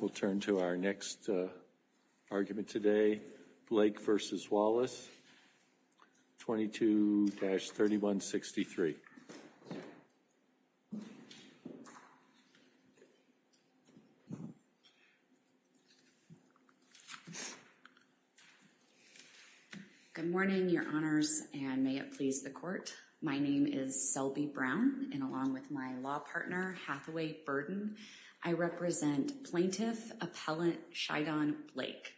We'll turn to our next argument today, Blake v. Wallace, 22-3163. Good morning, Your Honors, and may it please the Court. My name is Selby Brown, and along with my law partner, Hathaway Burden, I represent Plaintiff Appellant Shidon Blake.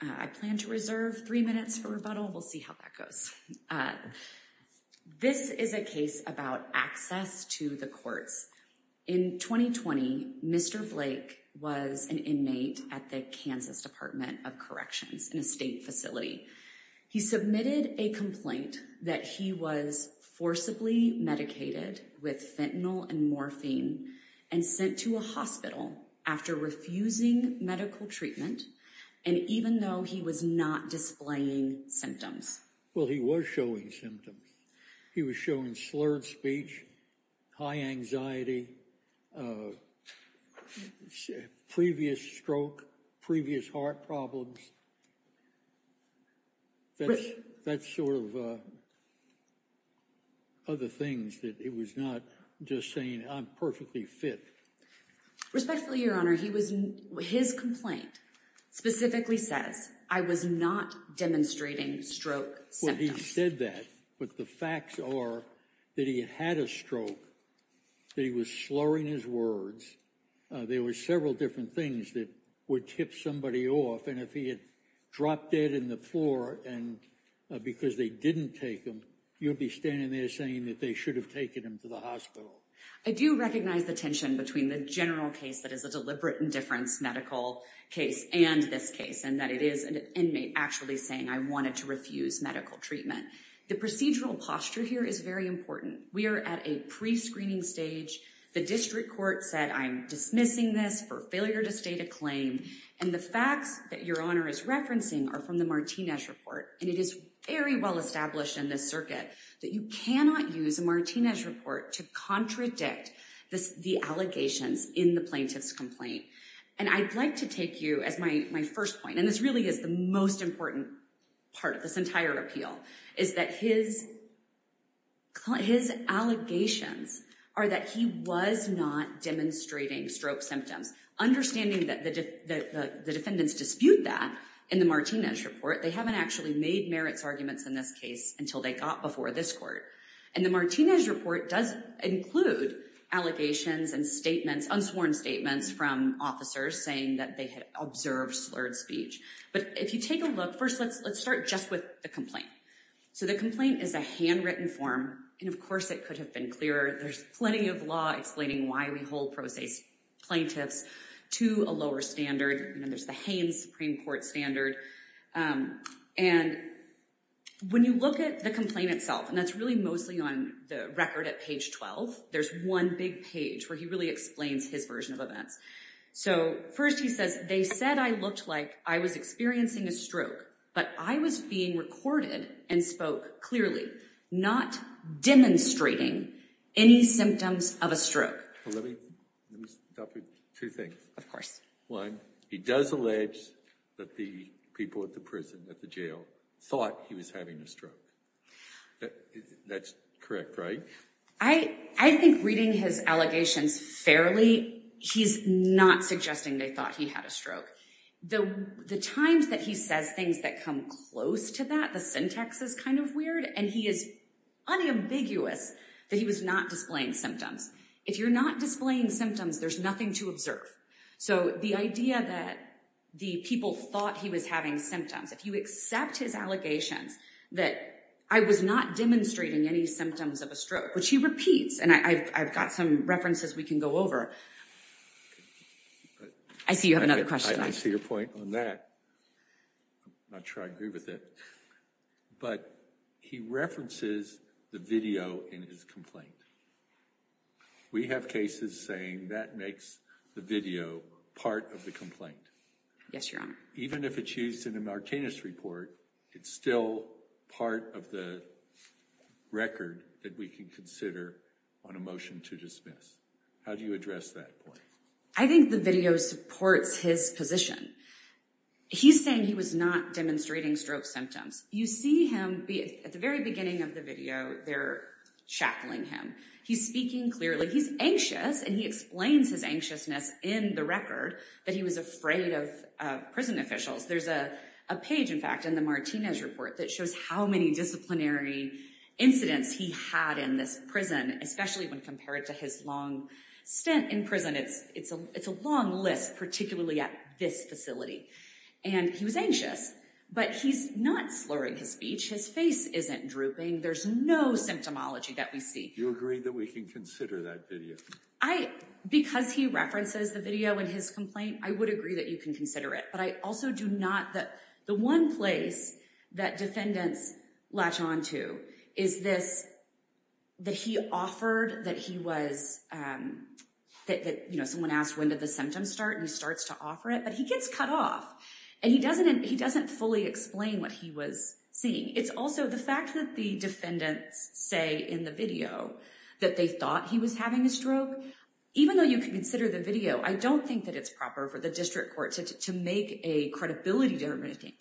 I plan to reserve three minutes for rebuttal. We'll see how that goes. This is a case about access to the courts. In 2020, Mr. Blake was an inmate at the Kansas Department of Corrections in a state facility. He submitted a complaint that he was forcibly medicated with fentanyl and morphine and sent to a hospital after refusing medical treatment, and even though he was not displaying symptoms. Well, he was showing symptoms. He was showing slurred speech, high anxiety, previous stroke, previous heart problems. That's sort of other things that it was not just saying I'm perfectly fit. Respectfully, Your Honor, his complaint specifically says I was not demonstrating stroke symptoms. Well, he said that, but the facts are that he had a stroke, that he was slurring his words. There were several different things that would tip somebody off, and if he had dropped dead in the floor because they didn't take him, you'd be standing there saying that they should have taken him to the hospital. I do recognize the tension between the general case that is a deliberate indifference medical case and this case, and that it is an inmate actually saying I wanted to refuse medical treatment. The procedural posture here is very important. We are at a pre-screening stage. The district court said I'm dismissing this for failure to state a claim, and the facts that Your Honor is referencing are from the Martinez report. And it is very well established in this circuit that you cannot use a Martinez report to contradict the allegations in the plaintiff's complaint. And I'd like to take you as my first point, and this really is the most important part of this entire appeal, is that his allegations are that he was not demonstrating stroke symptoms. Understanding that the defendants dispute that in the Martinez report, they haven't actually made merits arguments in this case until they got before this court. And the Martinez report does include allegations and statements, unsworn statements from officers saying that they had observed slurred speech. But if you take a look, first let's start just with the complaint. So the complaint is a handwritten form, and of course it could have been clearer. There's plenty of law explaining why we hold pro se plaintiffs to a lower standard. There's the Haynes Supreme Court standard. And when you look at the complaint itself, and that's really mostly on the record at page 12, there's one big page where he really explains his version of events. So first he says, they said I looked like I was experiencing a stroke, but I was being recorded and spoke clearly, not demonstrating any symptoms of a stroke. Let me stop with two things. Of course. One, he does allege that the people at the prison, at the jail, thought he was having a stroke. That's correct, right? I think reading his allegations fairly, he's not suggesting they thought he had a stroke. The times that he says things that come close to that, the syntax is kind of weird, and he is unambiguous that he was not displaying symptoms. If you're not displaying symptoms, there's nothing to observe. So the idea that the people thought he was having symptoms, if you accept his allegations that I was not demonstrating any symptoms of a stroke, which he repeats, and I've got some references we can go over. I see you have another question. I see your point on that. I'm not sure I agree with it. But he references the video in his complaint. We have cases saying that makes the video part of the complaint. Yes, Your Honor. Even if it's used in a Martinez report, it's still part of the record that we can consider on a motion to dismiss. How do you address that point? I think the video supports his position. He's saying he was not demonstrating stroke symptoms. You see him at the very beginning of the video. They're shackling him. He's speaking clearly. He's anxious, and he explains his anxiousness in the record that he was afraid of prison officials. There's a page, in fact, in the Martinez report that shows how many disciplinary incidents he had in this prison, especially when compared to his long stint in prison. It's a long list, particularly at this facility. And he was anxious. But he's not slurring his speech. His face isn't drooping. There's no symptomology that we see. Do you agree that we can consider that video? Because he references the video in his complaint, I would agree that you can consider it. But I also do not. The one place that defendants latch on to is this, that he offered that he was, you know, someone asked when did the symptoms start, and he starts to offer it. But he gets cut off, and he doesn't fully explain what he was seeing. It's also the fact that the defendants say in the video that they thought he was having a stroke. Even though you can consider the video, I don't think that it's proper for the district court to make a credibility determination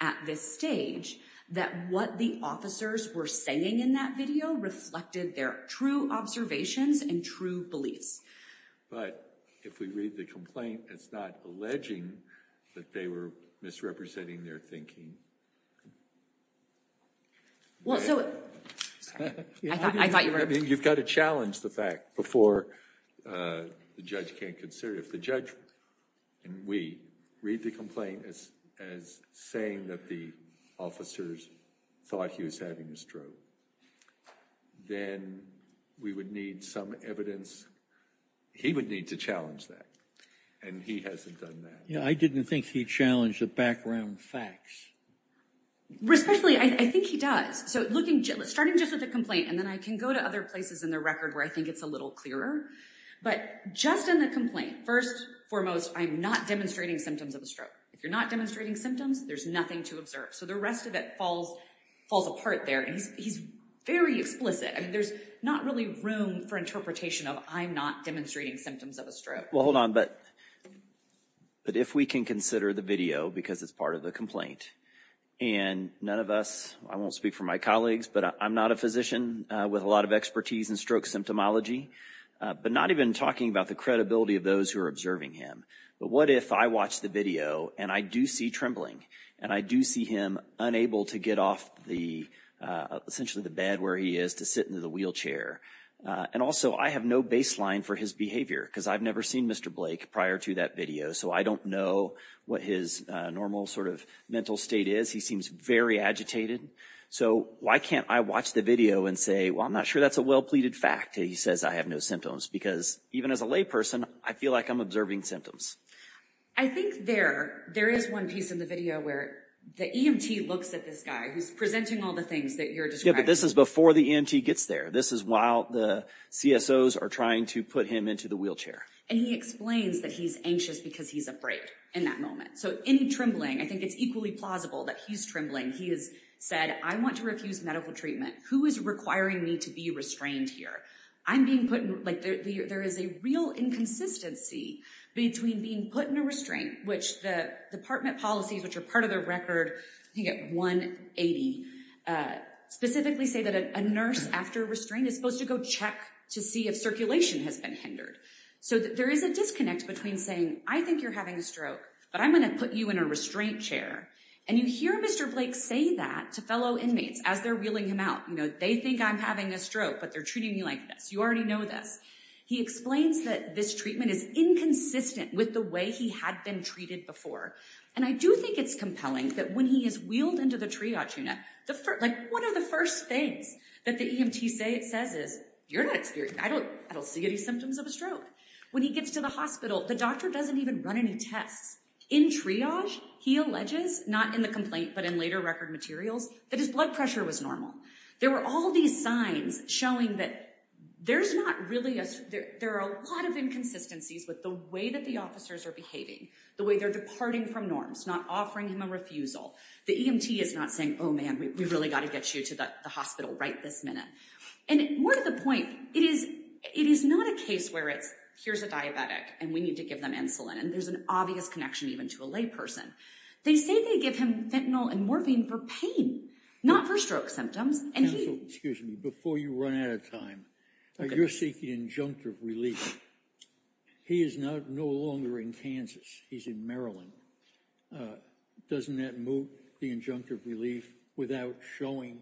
at this stage that what the officers were saying in that video reflected their true observations and true beliefs. But if we read the complaint, it's not alleging that they were misrepresenting their thinking. You've got to challenge the fact before the judge can consider it. If the judge and we read the complaint as saying that the officers thought he was having a stroke, then we would need some evidence. He would need to challenge that, and he hasn't done that. Yeah, I didn't think he challenged the background facts. Especially, I think he does. So starting just with the complaint, and then I can go to other places in the record where I think it's a little clearer. But just in the complaint, first and foremost, I'm not demonstrating symptoms of a stroke. If you're not demonstrating symptoms, there's nothing to observe. So the rest of it falls apart there, and he's very explicit. I mean, there's not really room for interpretation of I'm not demonstrating symptoms of a stroke. All right, well, hold on. But if we can consider the video because it's part of the complaint, and none of us, I won't speak for my colleagues, but I'm not a physician with a lot of expertise in stroke symptomology, but not even talking about the credibility of those who are observing him. But what if I watch the video, and I do see trembling, and I do see him unable to get off essentially the bed where he is to sit in the wheelchair? And also, I have no baseline for his behavior because I've never seen Mr. Blake prior to that video, so I don't know what his normal sort of mental state is. He seems very agitated. So why can't I watch the video and say, well, I'm not sure that's a well-pleaded fact that he says I have no symptoms? Because even as a layperson, I feel like I'm observing symptoms. I think there is one piece in the video where the EMT looks at this guy who's presenting all the things that you're describing. Yeah, but this is before the EMT gets there. This is while the CSOs are trying to put him into the wheelchair. And he explains that he's anxious because he's afraid in that moment. So any trembling, I think it's equally plausible that he's trembling. He has said, I want to refuse medical treatment. Who is requiring me to be restrained here? I'm being put in like there is a real inconsistency between being put in a restraint, which the department policies, which are part of the record, I think at 180, specifically say that a nurse after restraint is supposed to go check to see if circulation has been hindered. So there is a disconnect between saying, I think you're having a stroke, but I'm going to put you in a restraint chair. And you hear Mr. Blake say that to fellow inmates as they're wheeling him out. They think I'm having a stroke, but they're treating me like this. You already know this. He explains that this treatment is inconsistent with the way he had been treated before. And I do think it's compelling that when he is wheeled into the triage unit, like one of the first things that the EMT says is, I don't see any symptoms of a stroke. When he gets to the hospital, the doctor doesn't even run any tests. In triage, he alleges, not in the complaint, but in later record materials, that his blood pressure was normal. There were all these signs showing that there are a lot of inconsistencies with the way that the officers are behaving, the way they're departing from norms, not offering him a refusal. The EMT is not saying, oh, man, we've really got to get you to the hospital right this minute. And more to the point, it is not a case where it's, here's a diabetic, and we need to give them insulin. And there's an obvious connection even to a layperson. They say they give him fentanyl and morphine for pain, not for stroke symptoms. Counsel, excuse me. Before you run out of time, you're seeking injunctive relief. He is no longer in Kansas. He's in Maryland. Doesn't that move the injunctive relief without showing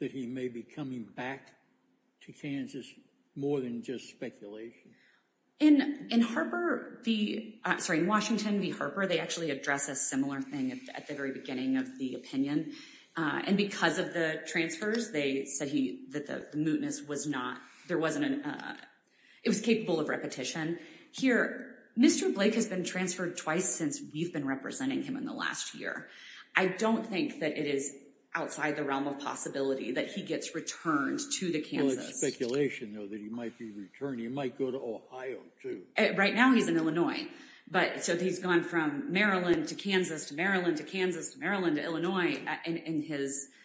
that he may be coming back to Kansas more than just speculation? In Washington v. Harper, they actually address a similar thing at the very beginning of the opinion. And because of the transfers, they said that the mootness was not – it was capable of repetition. Here, Mr. Blake has been transferred twice since we've been representing him in the last year. I don't think that it is outside the realm of possibility that he gets returned to Kansas. It's speculation, though, that he might be returned. He might go to Ohio, too. Right now he's in Illinois. So he's gone from Maryland to Kansas to Maryland to Kansas to Maryland to Illinois in his –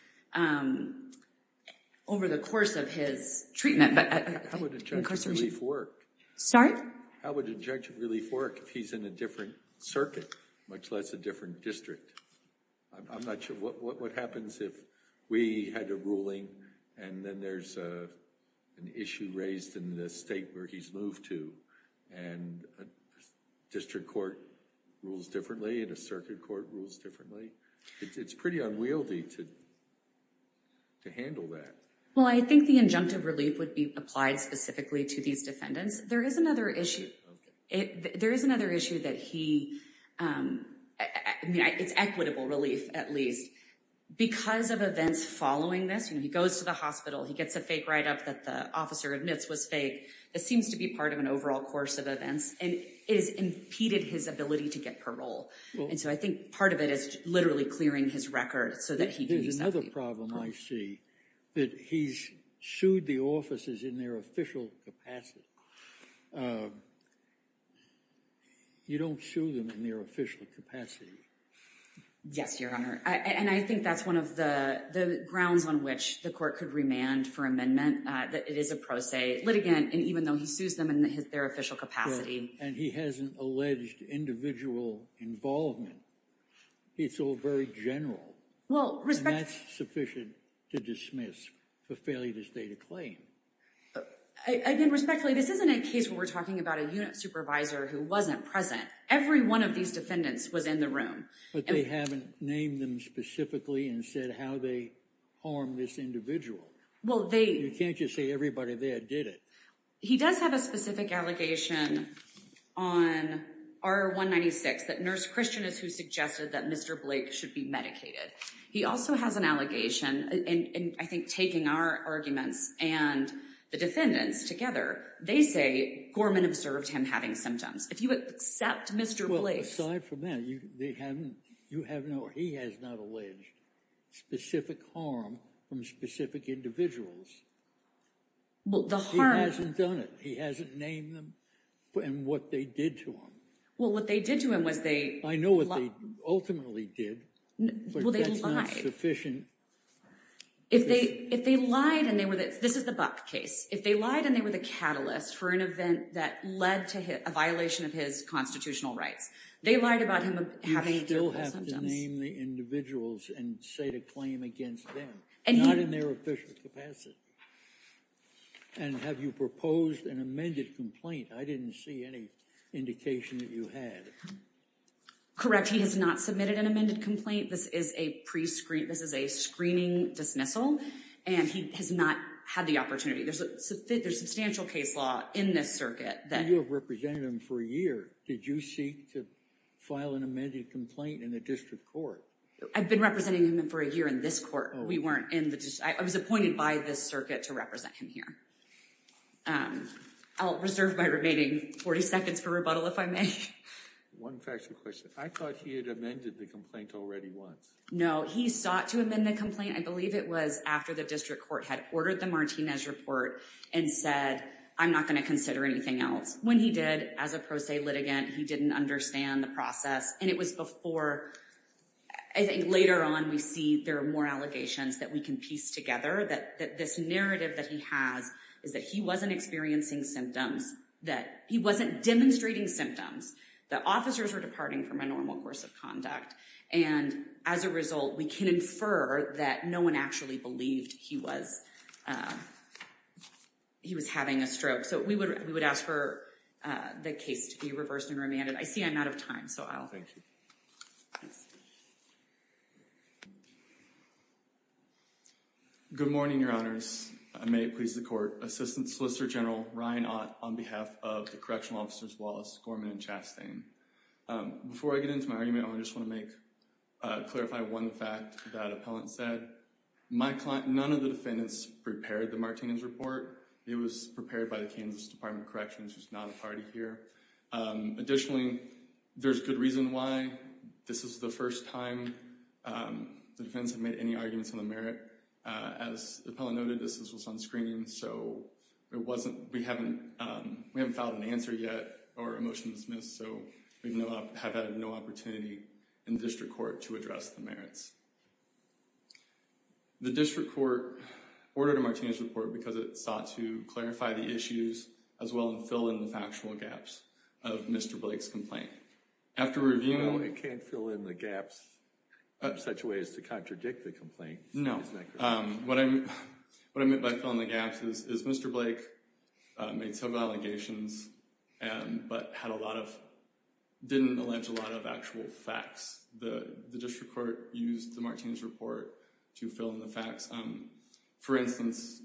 over the course of his treatment. How would injunctive relief work? Sorry? How would injunctive relief work if he's in a different circuit, much less a different district? I'm not sure. What happens if we had a ruling and then there's an issue raised in the state where he's moved to, and a district court rules differently and a circuit court rules differently? It's pretty unwieldy to handle that. Well, I think the injunctive relief would be applied specifically to these defendants. There is another issue that he – it's equitable relief, at least. Because of events following this, he goes to the hospital, he gets a fake write-up that the officer admits was fake. It seems to be part of an overall course of events, and it has impeded his ability to get parole. And so I think part of it is literally clearing his record so that he can use that relief. There's another problem I see, that he's sued the officers in their official capacity. You don't sue them in their official capacity. Yes, Your Honor. And I think that's one of the grounds on which the court could remand for amendment. It is a pro se litigant, and even though he sues them in their official capacity. And he hasn't alleged individual involvement. It's all very general. And that's sufficient to dismiss for failure to state a claim. I mean, respectfully, this isn't a case where we're talking about a unit supervisor who wasn't present. Every one of these defendants was in the room. But they haven't named them specifically and said how they harmed this individual. Well, they – You can't just say everybody there did it. He does have a specific allegation on R-196 that Nurse Christian is who suggested that Mr. Blake should be medicated. He also has an allegation, and I think taking our arguments and the defendants together, they say Gorman observed him having symptoms. If you accept Mr. Blake's – Well, aside from that, you have no – he has not alleged specific harm from specific individuals. Well, the harm – He hasn't done it. He hasn't named them and what they did to him. Well, what they did to him was they – I know what they ultimately did. Well, they lied. But that's not sufficient. If they lied and they were – this is the Buck case. If they lied and they were the catalyst for an event that led to a violation of his constitutional rights, they lied about him having – You still have to name the individuals and state a claim against them, not in their official capacity. And have you proposed an amended complaint? I didn't see any indication that you had. He has not submitted an amended complaint. This is a pre-screen – this is a screening dismissal, and he has not had the opportunity. There's substantial case law in this circuit that – You have represented him for a year. Did you seek to file an amended complaint in the district court? I've been representing him for a year in this court. We weren't in the – I was appointed by this circuit to represent him here. I'll reserve my remaining 40 seconds for rebuttal if I may. One factual question. I thought he had amended the complaint already once. No, he sought to amend the complaint. I believe it was after the district court had ordered the Martinez report and said, I'm not going to consider anything else. When he did, as a pro se litigant, he didn't understand the process. And it was before – I think later on we see there are more allegations that we can piece together, that this narrative that he has is that he wasn't experiencing symptoms, that he wasn't demonstrating symptoms, that officers were departing from a normal course of conduct. And as a result, we can infer that no one actually believed he was having a stroke. So we would ask for the case to be reversed and remanded. I see I'm out of time, so I'll – Good morning, Your Honors. May it please the court. Assistant Solicitor General Ryan Ott on behalf of the correctional officers Wallace, Gorman, and Chastain. Before I get into my argument, I just want to clarify one fact that appellant said. My client – none of the defendants prepared the Martinez report. It was prepared by the Kansas Department of Corrections, who's not a party here. Additionally, there's good reason why. This is the first time the defendants have made any arguments on the merit. As the appellant noted, this was on screening, so it wasn't – we haven't filed an answer yet or a motion to dismiss, so we have had no opportunity in district court to address the merits. The district court ordered a Martinez report because it sought to clarify the issues as well as fill in the factual gaps of Mr. Blake's complaint. After reviewing – No, it can't fill in the gaps in such a way as to contradict the complaint. No. What I meant by filling the gaps is Mr. Blake made several allegations, but had a lot of – didn't allege a lot of actual facts. The district court used the Martinez report to fill in the facts. For instance,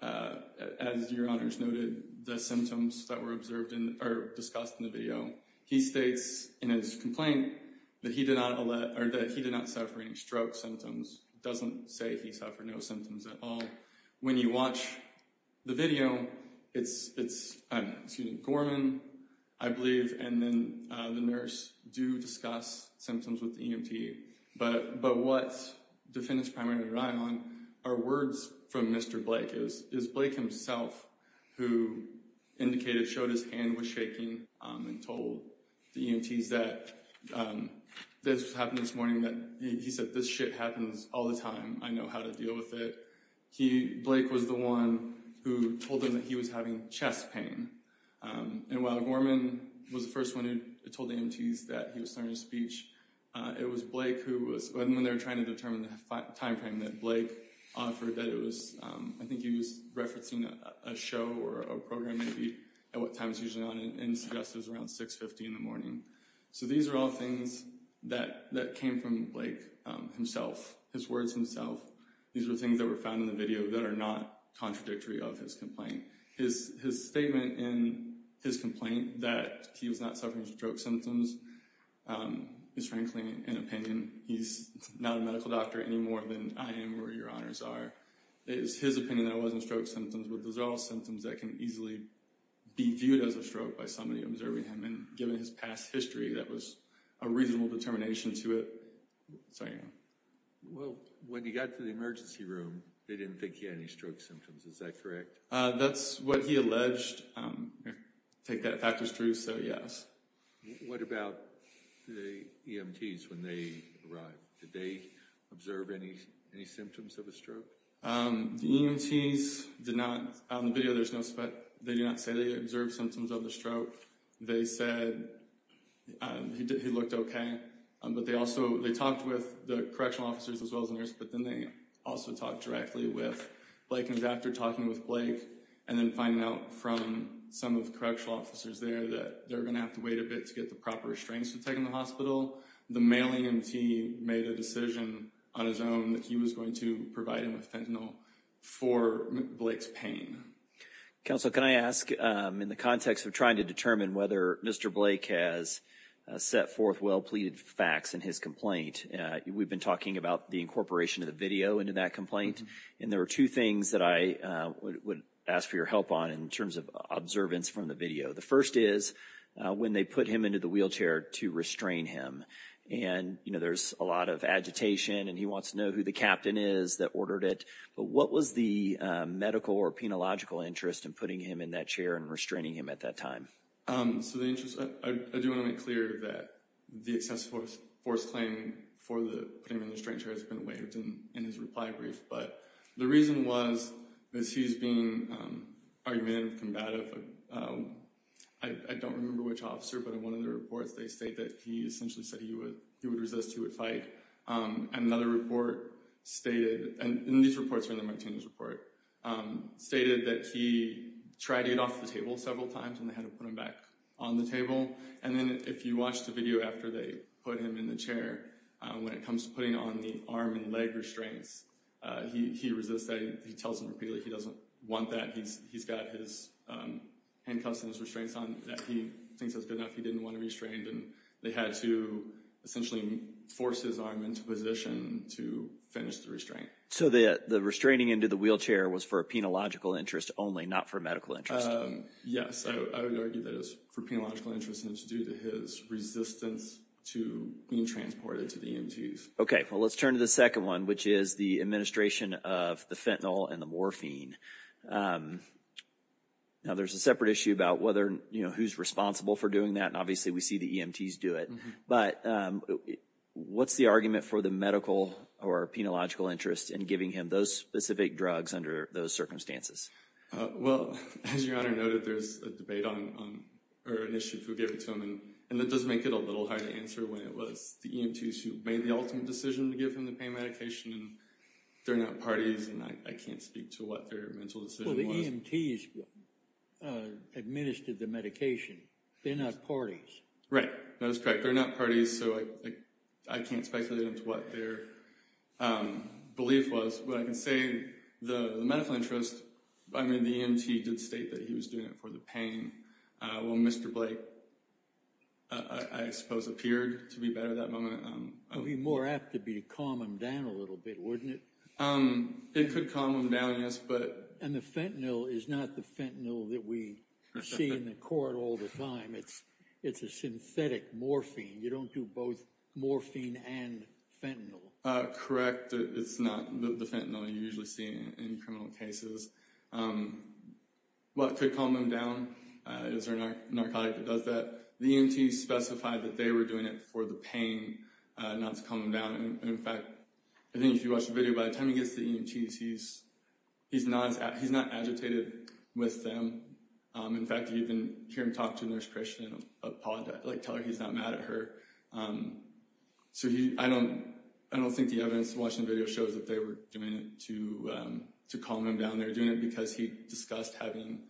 as Your Honors noted, the symptoms that were observed in – or discussed in the video, he states in his complaint that he did not – or that he did not suffer any stroke symptoms. It doesn't say he suffered no symptoms at all. When you watch the video, it's Gorman, I believe, and then the nurse do discuss symptoms with the EMT, but what defendants primarily rely on are words from Mr. Blake. It was Blake himself who indicated – showed his hand was shaking and told the EMTs that this happened this morning, that – he said, this shit happens all the time, I know how to deal with it. Blake was the one who told them that he was having chest pain. And while Gorman was the first one who told the EMTs that he was starting to speech, it was Blake who was – when they were trying to determine the timeframe that Blake offered, that it was – I think he was referencing a show or a program maybe, at what time it's usually on, and suggested it was around 6.50 in the morning. So these are all things that came from Blake himself, his words himself. These are things that were found in the video that are not contradictory of his complaint. His statement in his complaint that he was not suffering stroke symptoms is frankly an opinion. He's not a medical doctor anymore than I am or your honors are. It's his opinion that it wasn't stroke symptoms, but those are all symptoms that can easily be viewed as a stroke by somebody observing him. And given his past history, that was a reasonable determination to it. So, yeah. Well, when he got to the emergency room, they didn't think he had any stroke symptoms. Is that correct? That's what he alleged. I take that fact as true, so yes. What about the EMTs when they arrived? Did they observe any symptoms of a stroke? The EMTs did not. On the video, they do not say they observed symptoms of a stroke. They said he looked okay, but they also talked with the correctional officers as well as the nurse, but then they also talked directly with Blake. It was after talking with Blake and then finding out from some of the correctional officers there that they were going to have to wait a bit to get the proper restraints to take him to the hospital. The mailing EMT made a decision on his own that he was going to provide him with fentanyl for Blake's pain. Counsel, can I ask, in the context of trying to determine whether Mr. Blake has set forth well-pleaded facts in his complaint, we've been talking about the incorporation of the video into that complaint, and there are two things that I would ask for your help on in terms of observance from the video. The first is when they put him into the wheelchair to restrain him. There's a lot of agitation, and he wants to know who the captain is that ordered it, but what was the medical or penological interest in putting him in that chair and restraining him at that time? I do want to make clear that the excessive force claim for putting him in the wheelchair has been waived in his reply brief, but the reason was that he's being argumentative, combative. I don't remember which officer, but in one of the reports they state that he essentially said he would resist, he would fight. Another report stated, and these reports are in the Martinez report, stated that he tried to get off the table several times and they had to put him back on the table, and then if you watch the video after they put him in the chair, when it comes to putting on the arm and leg restraints, he resists, he tells them repeatedly he doesn't want that, he's got his handcuffs and his restraints on, that he thinks that's good enough, he didn't want to be restrained, and they had to essentially force his arm into position to finish the restraint. So the restraining into the wheelchair was for a penological interest only, not for medical interest? Yes, I would argue that it's for penological interest and it's due to his resistance to being transported to the EMTs. Okay, well let's turn to the second one, which is the administration of the fentanyl and the morphine. Now there's a separate issue about whether, you know, who's responsible for doing that, and obviously we see the EMTs do it, but what's the argument for the medical or penological interest in giving him those specific drugs under those circumstances? Well, as Your Honor noted, there's a debate on, or an issue for giving it to them, and that does make it a little hard to answer when it was the EMTs who made the ultimate decision to give him the pain medication, and they're not parties, and I can't speak to what their mental decision was. Well, the EMTs administered the medication, they're not parties. Right, that is correct, they're not parties, so I can't speculate into what their belief was, but I can say the medical interest, I mean, the EMT did state that he was doing it for the pain. Well, Mr. Blake, I suppose, appeared to be better that moment. It would be more apt to calm him down a little bit, wouldn't it? It could calm him down, yes, but... And the fentanyl is not the fentanyl that we see in the court all the time. It's a synthetic morphine. You don't do both morphine and fentanyl. Correct, it's not the fentanyl you usually see in criminal cases. Well, it could calm him down. Is there a narcotic that does that? The EMTs specified that they were doing it for the pain, not to calm him down, and in fact, I think if you watch the video, by the time he gets to the EMTs, he's not agitated with them. In fact, you can hear him talk to Nurse Christian, tell her he's not mad at her. So I don't think the evidence from watching the video shows that they were doing it to calm him down. They were doing it because he discussed having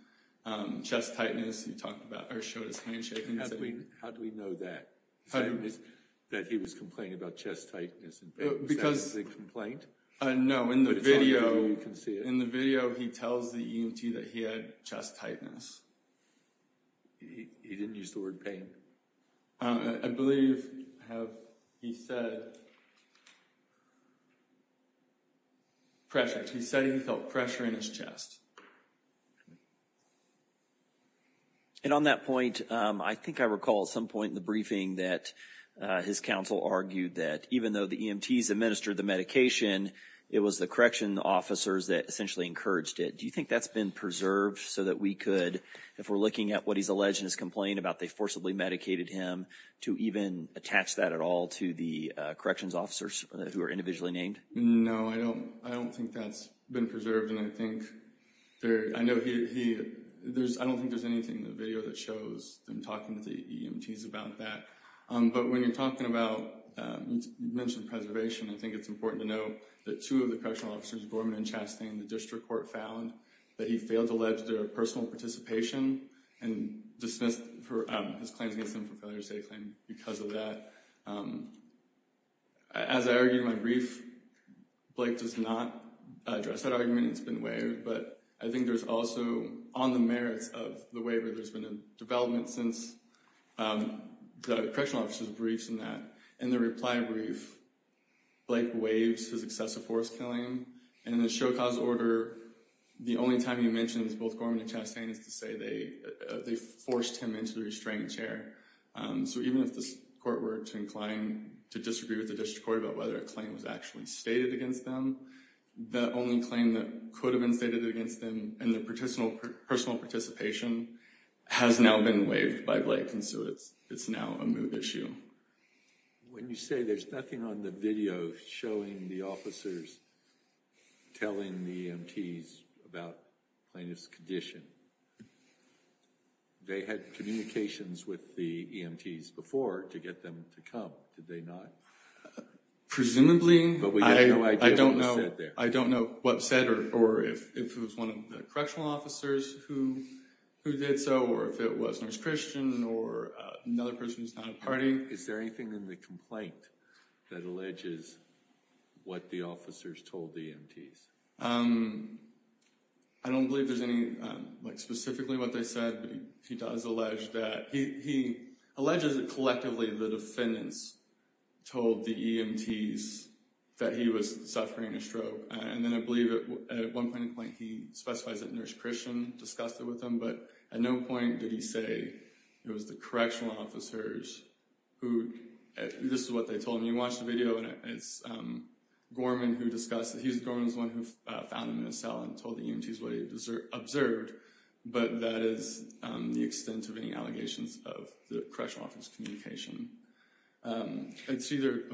chest tightness. He talked about, or showed his handshaking. How do we know that? That he was complaining about chest tightness? Because... Is that the complaint? No, in the video, he tells the EMT that he had chest tightness. He didn't use the word pain? I believe he said pressure. He said he felt pressure in his chest. And on that point, I think I recall at some point in the briefing that his counsel argued that even though the EMTs administered the medication, it was the correction officers that essentially encouraged it. Do you think that's been preserved so that we could, if we're looking at what he's alleged to have complained about, they forcibly medicated him to even attach that at all to the corrections officers who are individually named? No, I don't think that's been preserved. And I don't think there's anything in the video that shows them talking to the EMTs about that. But when you're talking about, you mentioned preservation, I think it's important to note that two of the correctional officers, Gorman and Chastain, the district court found that he failed to allege their personal participation and dismissed his claims against them for failure to state a claim because of that. As I argued in my brief, Blake does not address that argument. It's been waived, but I think there's also, on the merits of the waiver, there's been a development since the correctional officers' briefs in that. In the reply brief, Blake waives his excessive force killing. And in the show cause order, the only time he mentions both Gorman and Chastain is to say they forced him into the restraining chair. So even if the court were to incline to disagree with the district court about whether a claim was actually stated against them, the only claim that could have been stated against them in their personal participation has now been waived by Blake, and so it's now a moot issue. When you say there's nothing on the video showing the officers telling the EMTs about plaintiff's condition, they had communications with the EMTs before to get them to come, did they not? Presumably, but we have no idea what was said there. I don't know what was said or if it was one of the correctional officers who did so or if it was Nurse Christian or another person who's not a party. Is there anything in the complaint that alleges what the officers told the EMTs? I don't believe there's any specifically what they said, but he does allege that. He alleges that collectively the defendants told the EMTs that he was suffering a stroke, and then I believe at one point in the complaint he specifies that Nurse Christian discussed it with them, but at no point did he say it was the correctional officers who, this is what they told him. You watch the video and it's Gorman who discussed it. He's the one who found him in a cell and told the EMTs what he observed, but that is the extent of any allegations of the correctional officer's communication.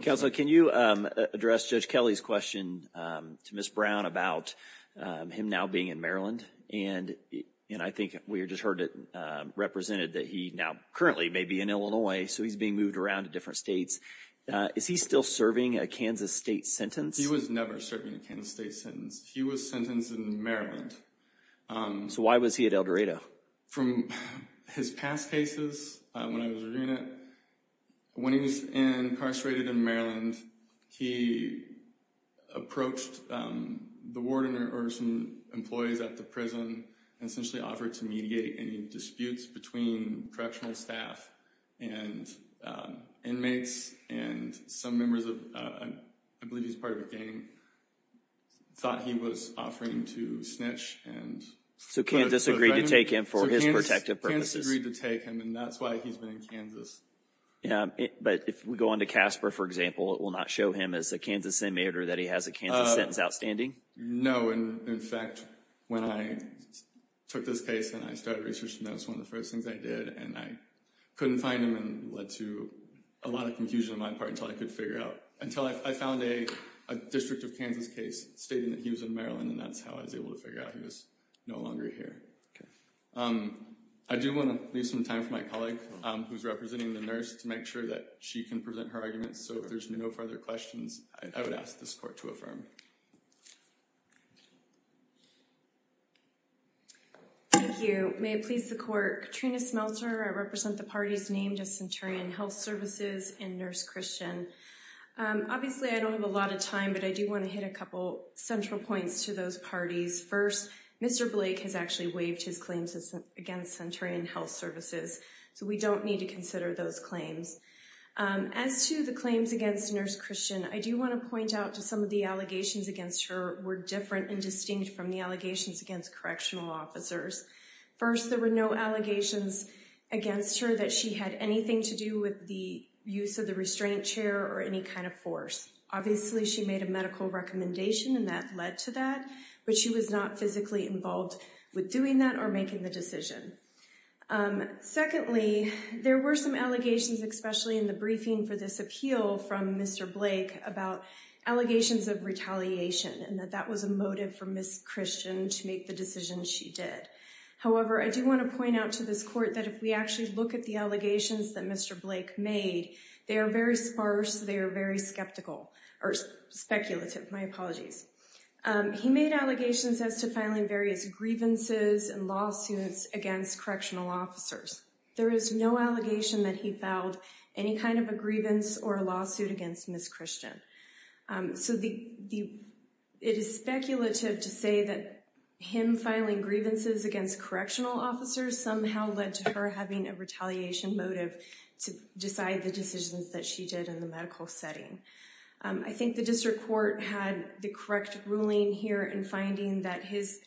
Counsel, can you address Judge Kelly's question to Ms. Brown about him now being in Maryland? And I think we just heard it represented that he now currently may be in Illinois, so he's being moved around to different states. Is he still serving a Kansas state sentence? He was never serving a Kansas state sentence. He was sentenced in Maryland. So why was he at El Dorado? From his past cases, when I was reviewing it, when he was incarcerated in Maryland, he approached the warden or some employees at the prison and essentially offered to mediate any disputes between correctional staff and inmates, and some members of, I believe he's part of a gang, thought he was offering to snitch. So Kansas agreed to take him for his protective purposes. Kansas agreed to take him, and that's why he's been in Kansas. But if we go on to Casper, for example, it will not show him as a Kansas inmate or that he has a Kansas sentence outstanding? No. In fact, when I took this case and I started researching, that was one of the first things I did, and I couldn't find him and it led to a lot of confusion on my part until I could figure it out, until I found a district of Kansas case stating that he was in Maryland, and that's how I was able to figure out he was no longer here. I do want to leave some time for my colleague, who's representing the nurse, to make sure that she can present her arguments. So if there's no further questions, I would ask this court to affirm. Thank you. May it please the court. Katrina Smelter, I represent the parties named as Centurion Health Services and Nurse Christian. Obviously, I don't have a lot of time, but I do want to hit a couple central points to those parties. First, Mr. Blake has actually waived his claims against Centurion Health Services, so we don't need to consider those claims. As to the claims against Nurse Christian, I do want to point out that some of the allegations against her were different and distinct from the allegations against correctional officers. First, there were no allegations against her that she had anything to do with the use of the restraint chair or any kind of force. Obviously, she made a medical recommendation and that led to that, but she was not physically involved with doing that or making the decision. Secondly, there were some allegations, especially in the briefing for this appeal from Mr. Blake, about allegations of retaliation and that that was a motive for Nurse Christian to make the decision she did. However, I do want to point out to this court that if we actually look at the allegations that Mr. Blake made, they are very sparse, they are very skeptical, or speculative. My apologies. He made allegations as to filing various grievances and lawsuits against correctional officers. There is no allegation that he filed any kind of a grievance or a lawsuit against Nurse Christian. So it is speculative to say that him filing grievances against correctional officers somehow led to her having a retaliation motive to decide the decisions that she did in the medical setting. I think the district court had the correct ruling here in finding that his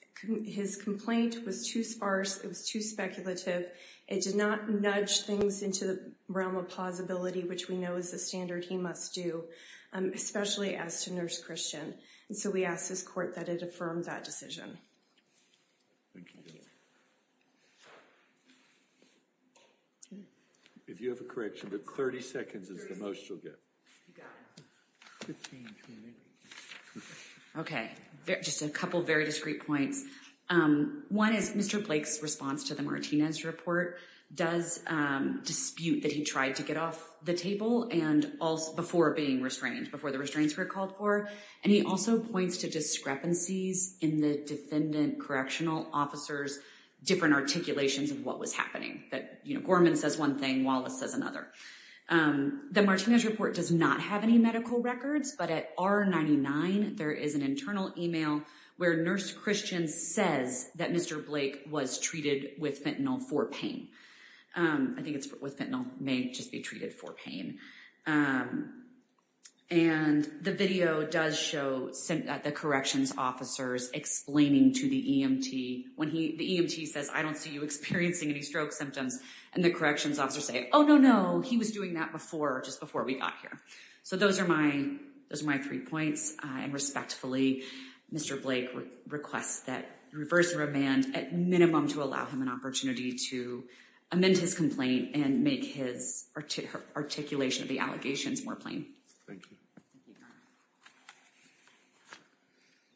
complaint was too sparse, it was too speculative, it did not nudge things into the realm of plausibility, which we know is the standard he must do, especially as to Nurse Christian. So we ask this court that it affirm that decision. Thank you. If you have a correction, but 30 seconds is the most you'll get. You got it. Okay, just a couple very discrete points. One is Mr. Blake's response to the Martinez report does dispute that he tried to get off the table before being restrained, before the restraints were called for. And he also points to discrepancies in the defendant correctional officer's different articulations of what was happening. That, you know, Gorman says one thing, Wallace says another. The Martinez report does not have any medical records, but at R99 there is an internal email where Nurse Christian says that Mr. Blake was treated with fentanyl for pain. I think it's with fentanyl, may just be treated for pain. And the video does show the corrections officers explaining to the EMT, when the EMT says, I don't see you experiencing any stroke symptoms, and the corrections officers say, oh, no, no, he was doing that before, just before we got here. So those are my three points. And respectfully, Mr. Blake requests that reverse remand at minimum to allow him an opportunity to amend his complaint and make his articulation of the allegations more plain. Thank you.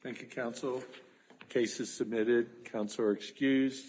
Thank you, counsel. Case is submitted. Counsel are excused.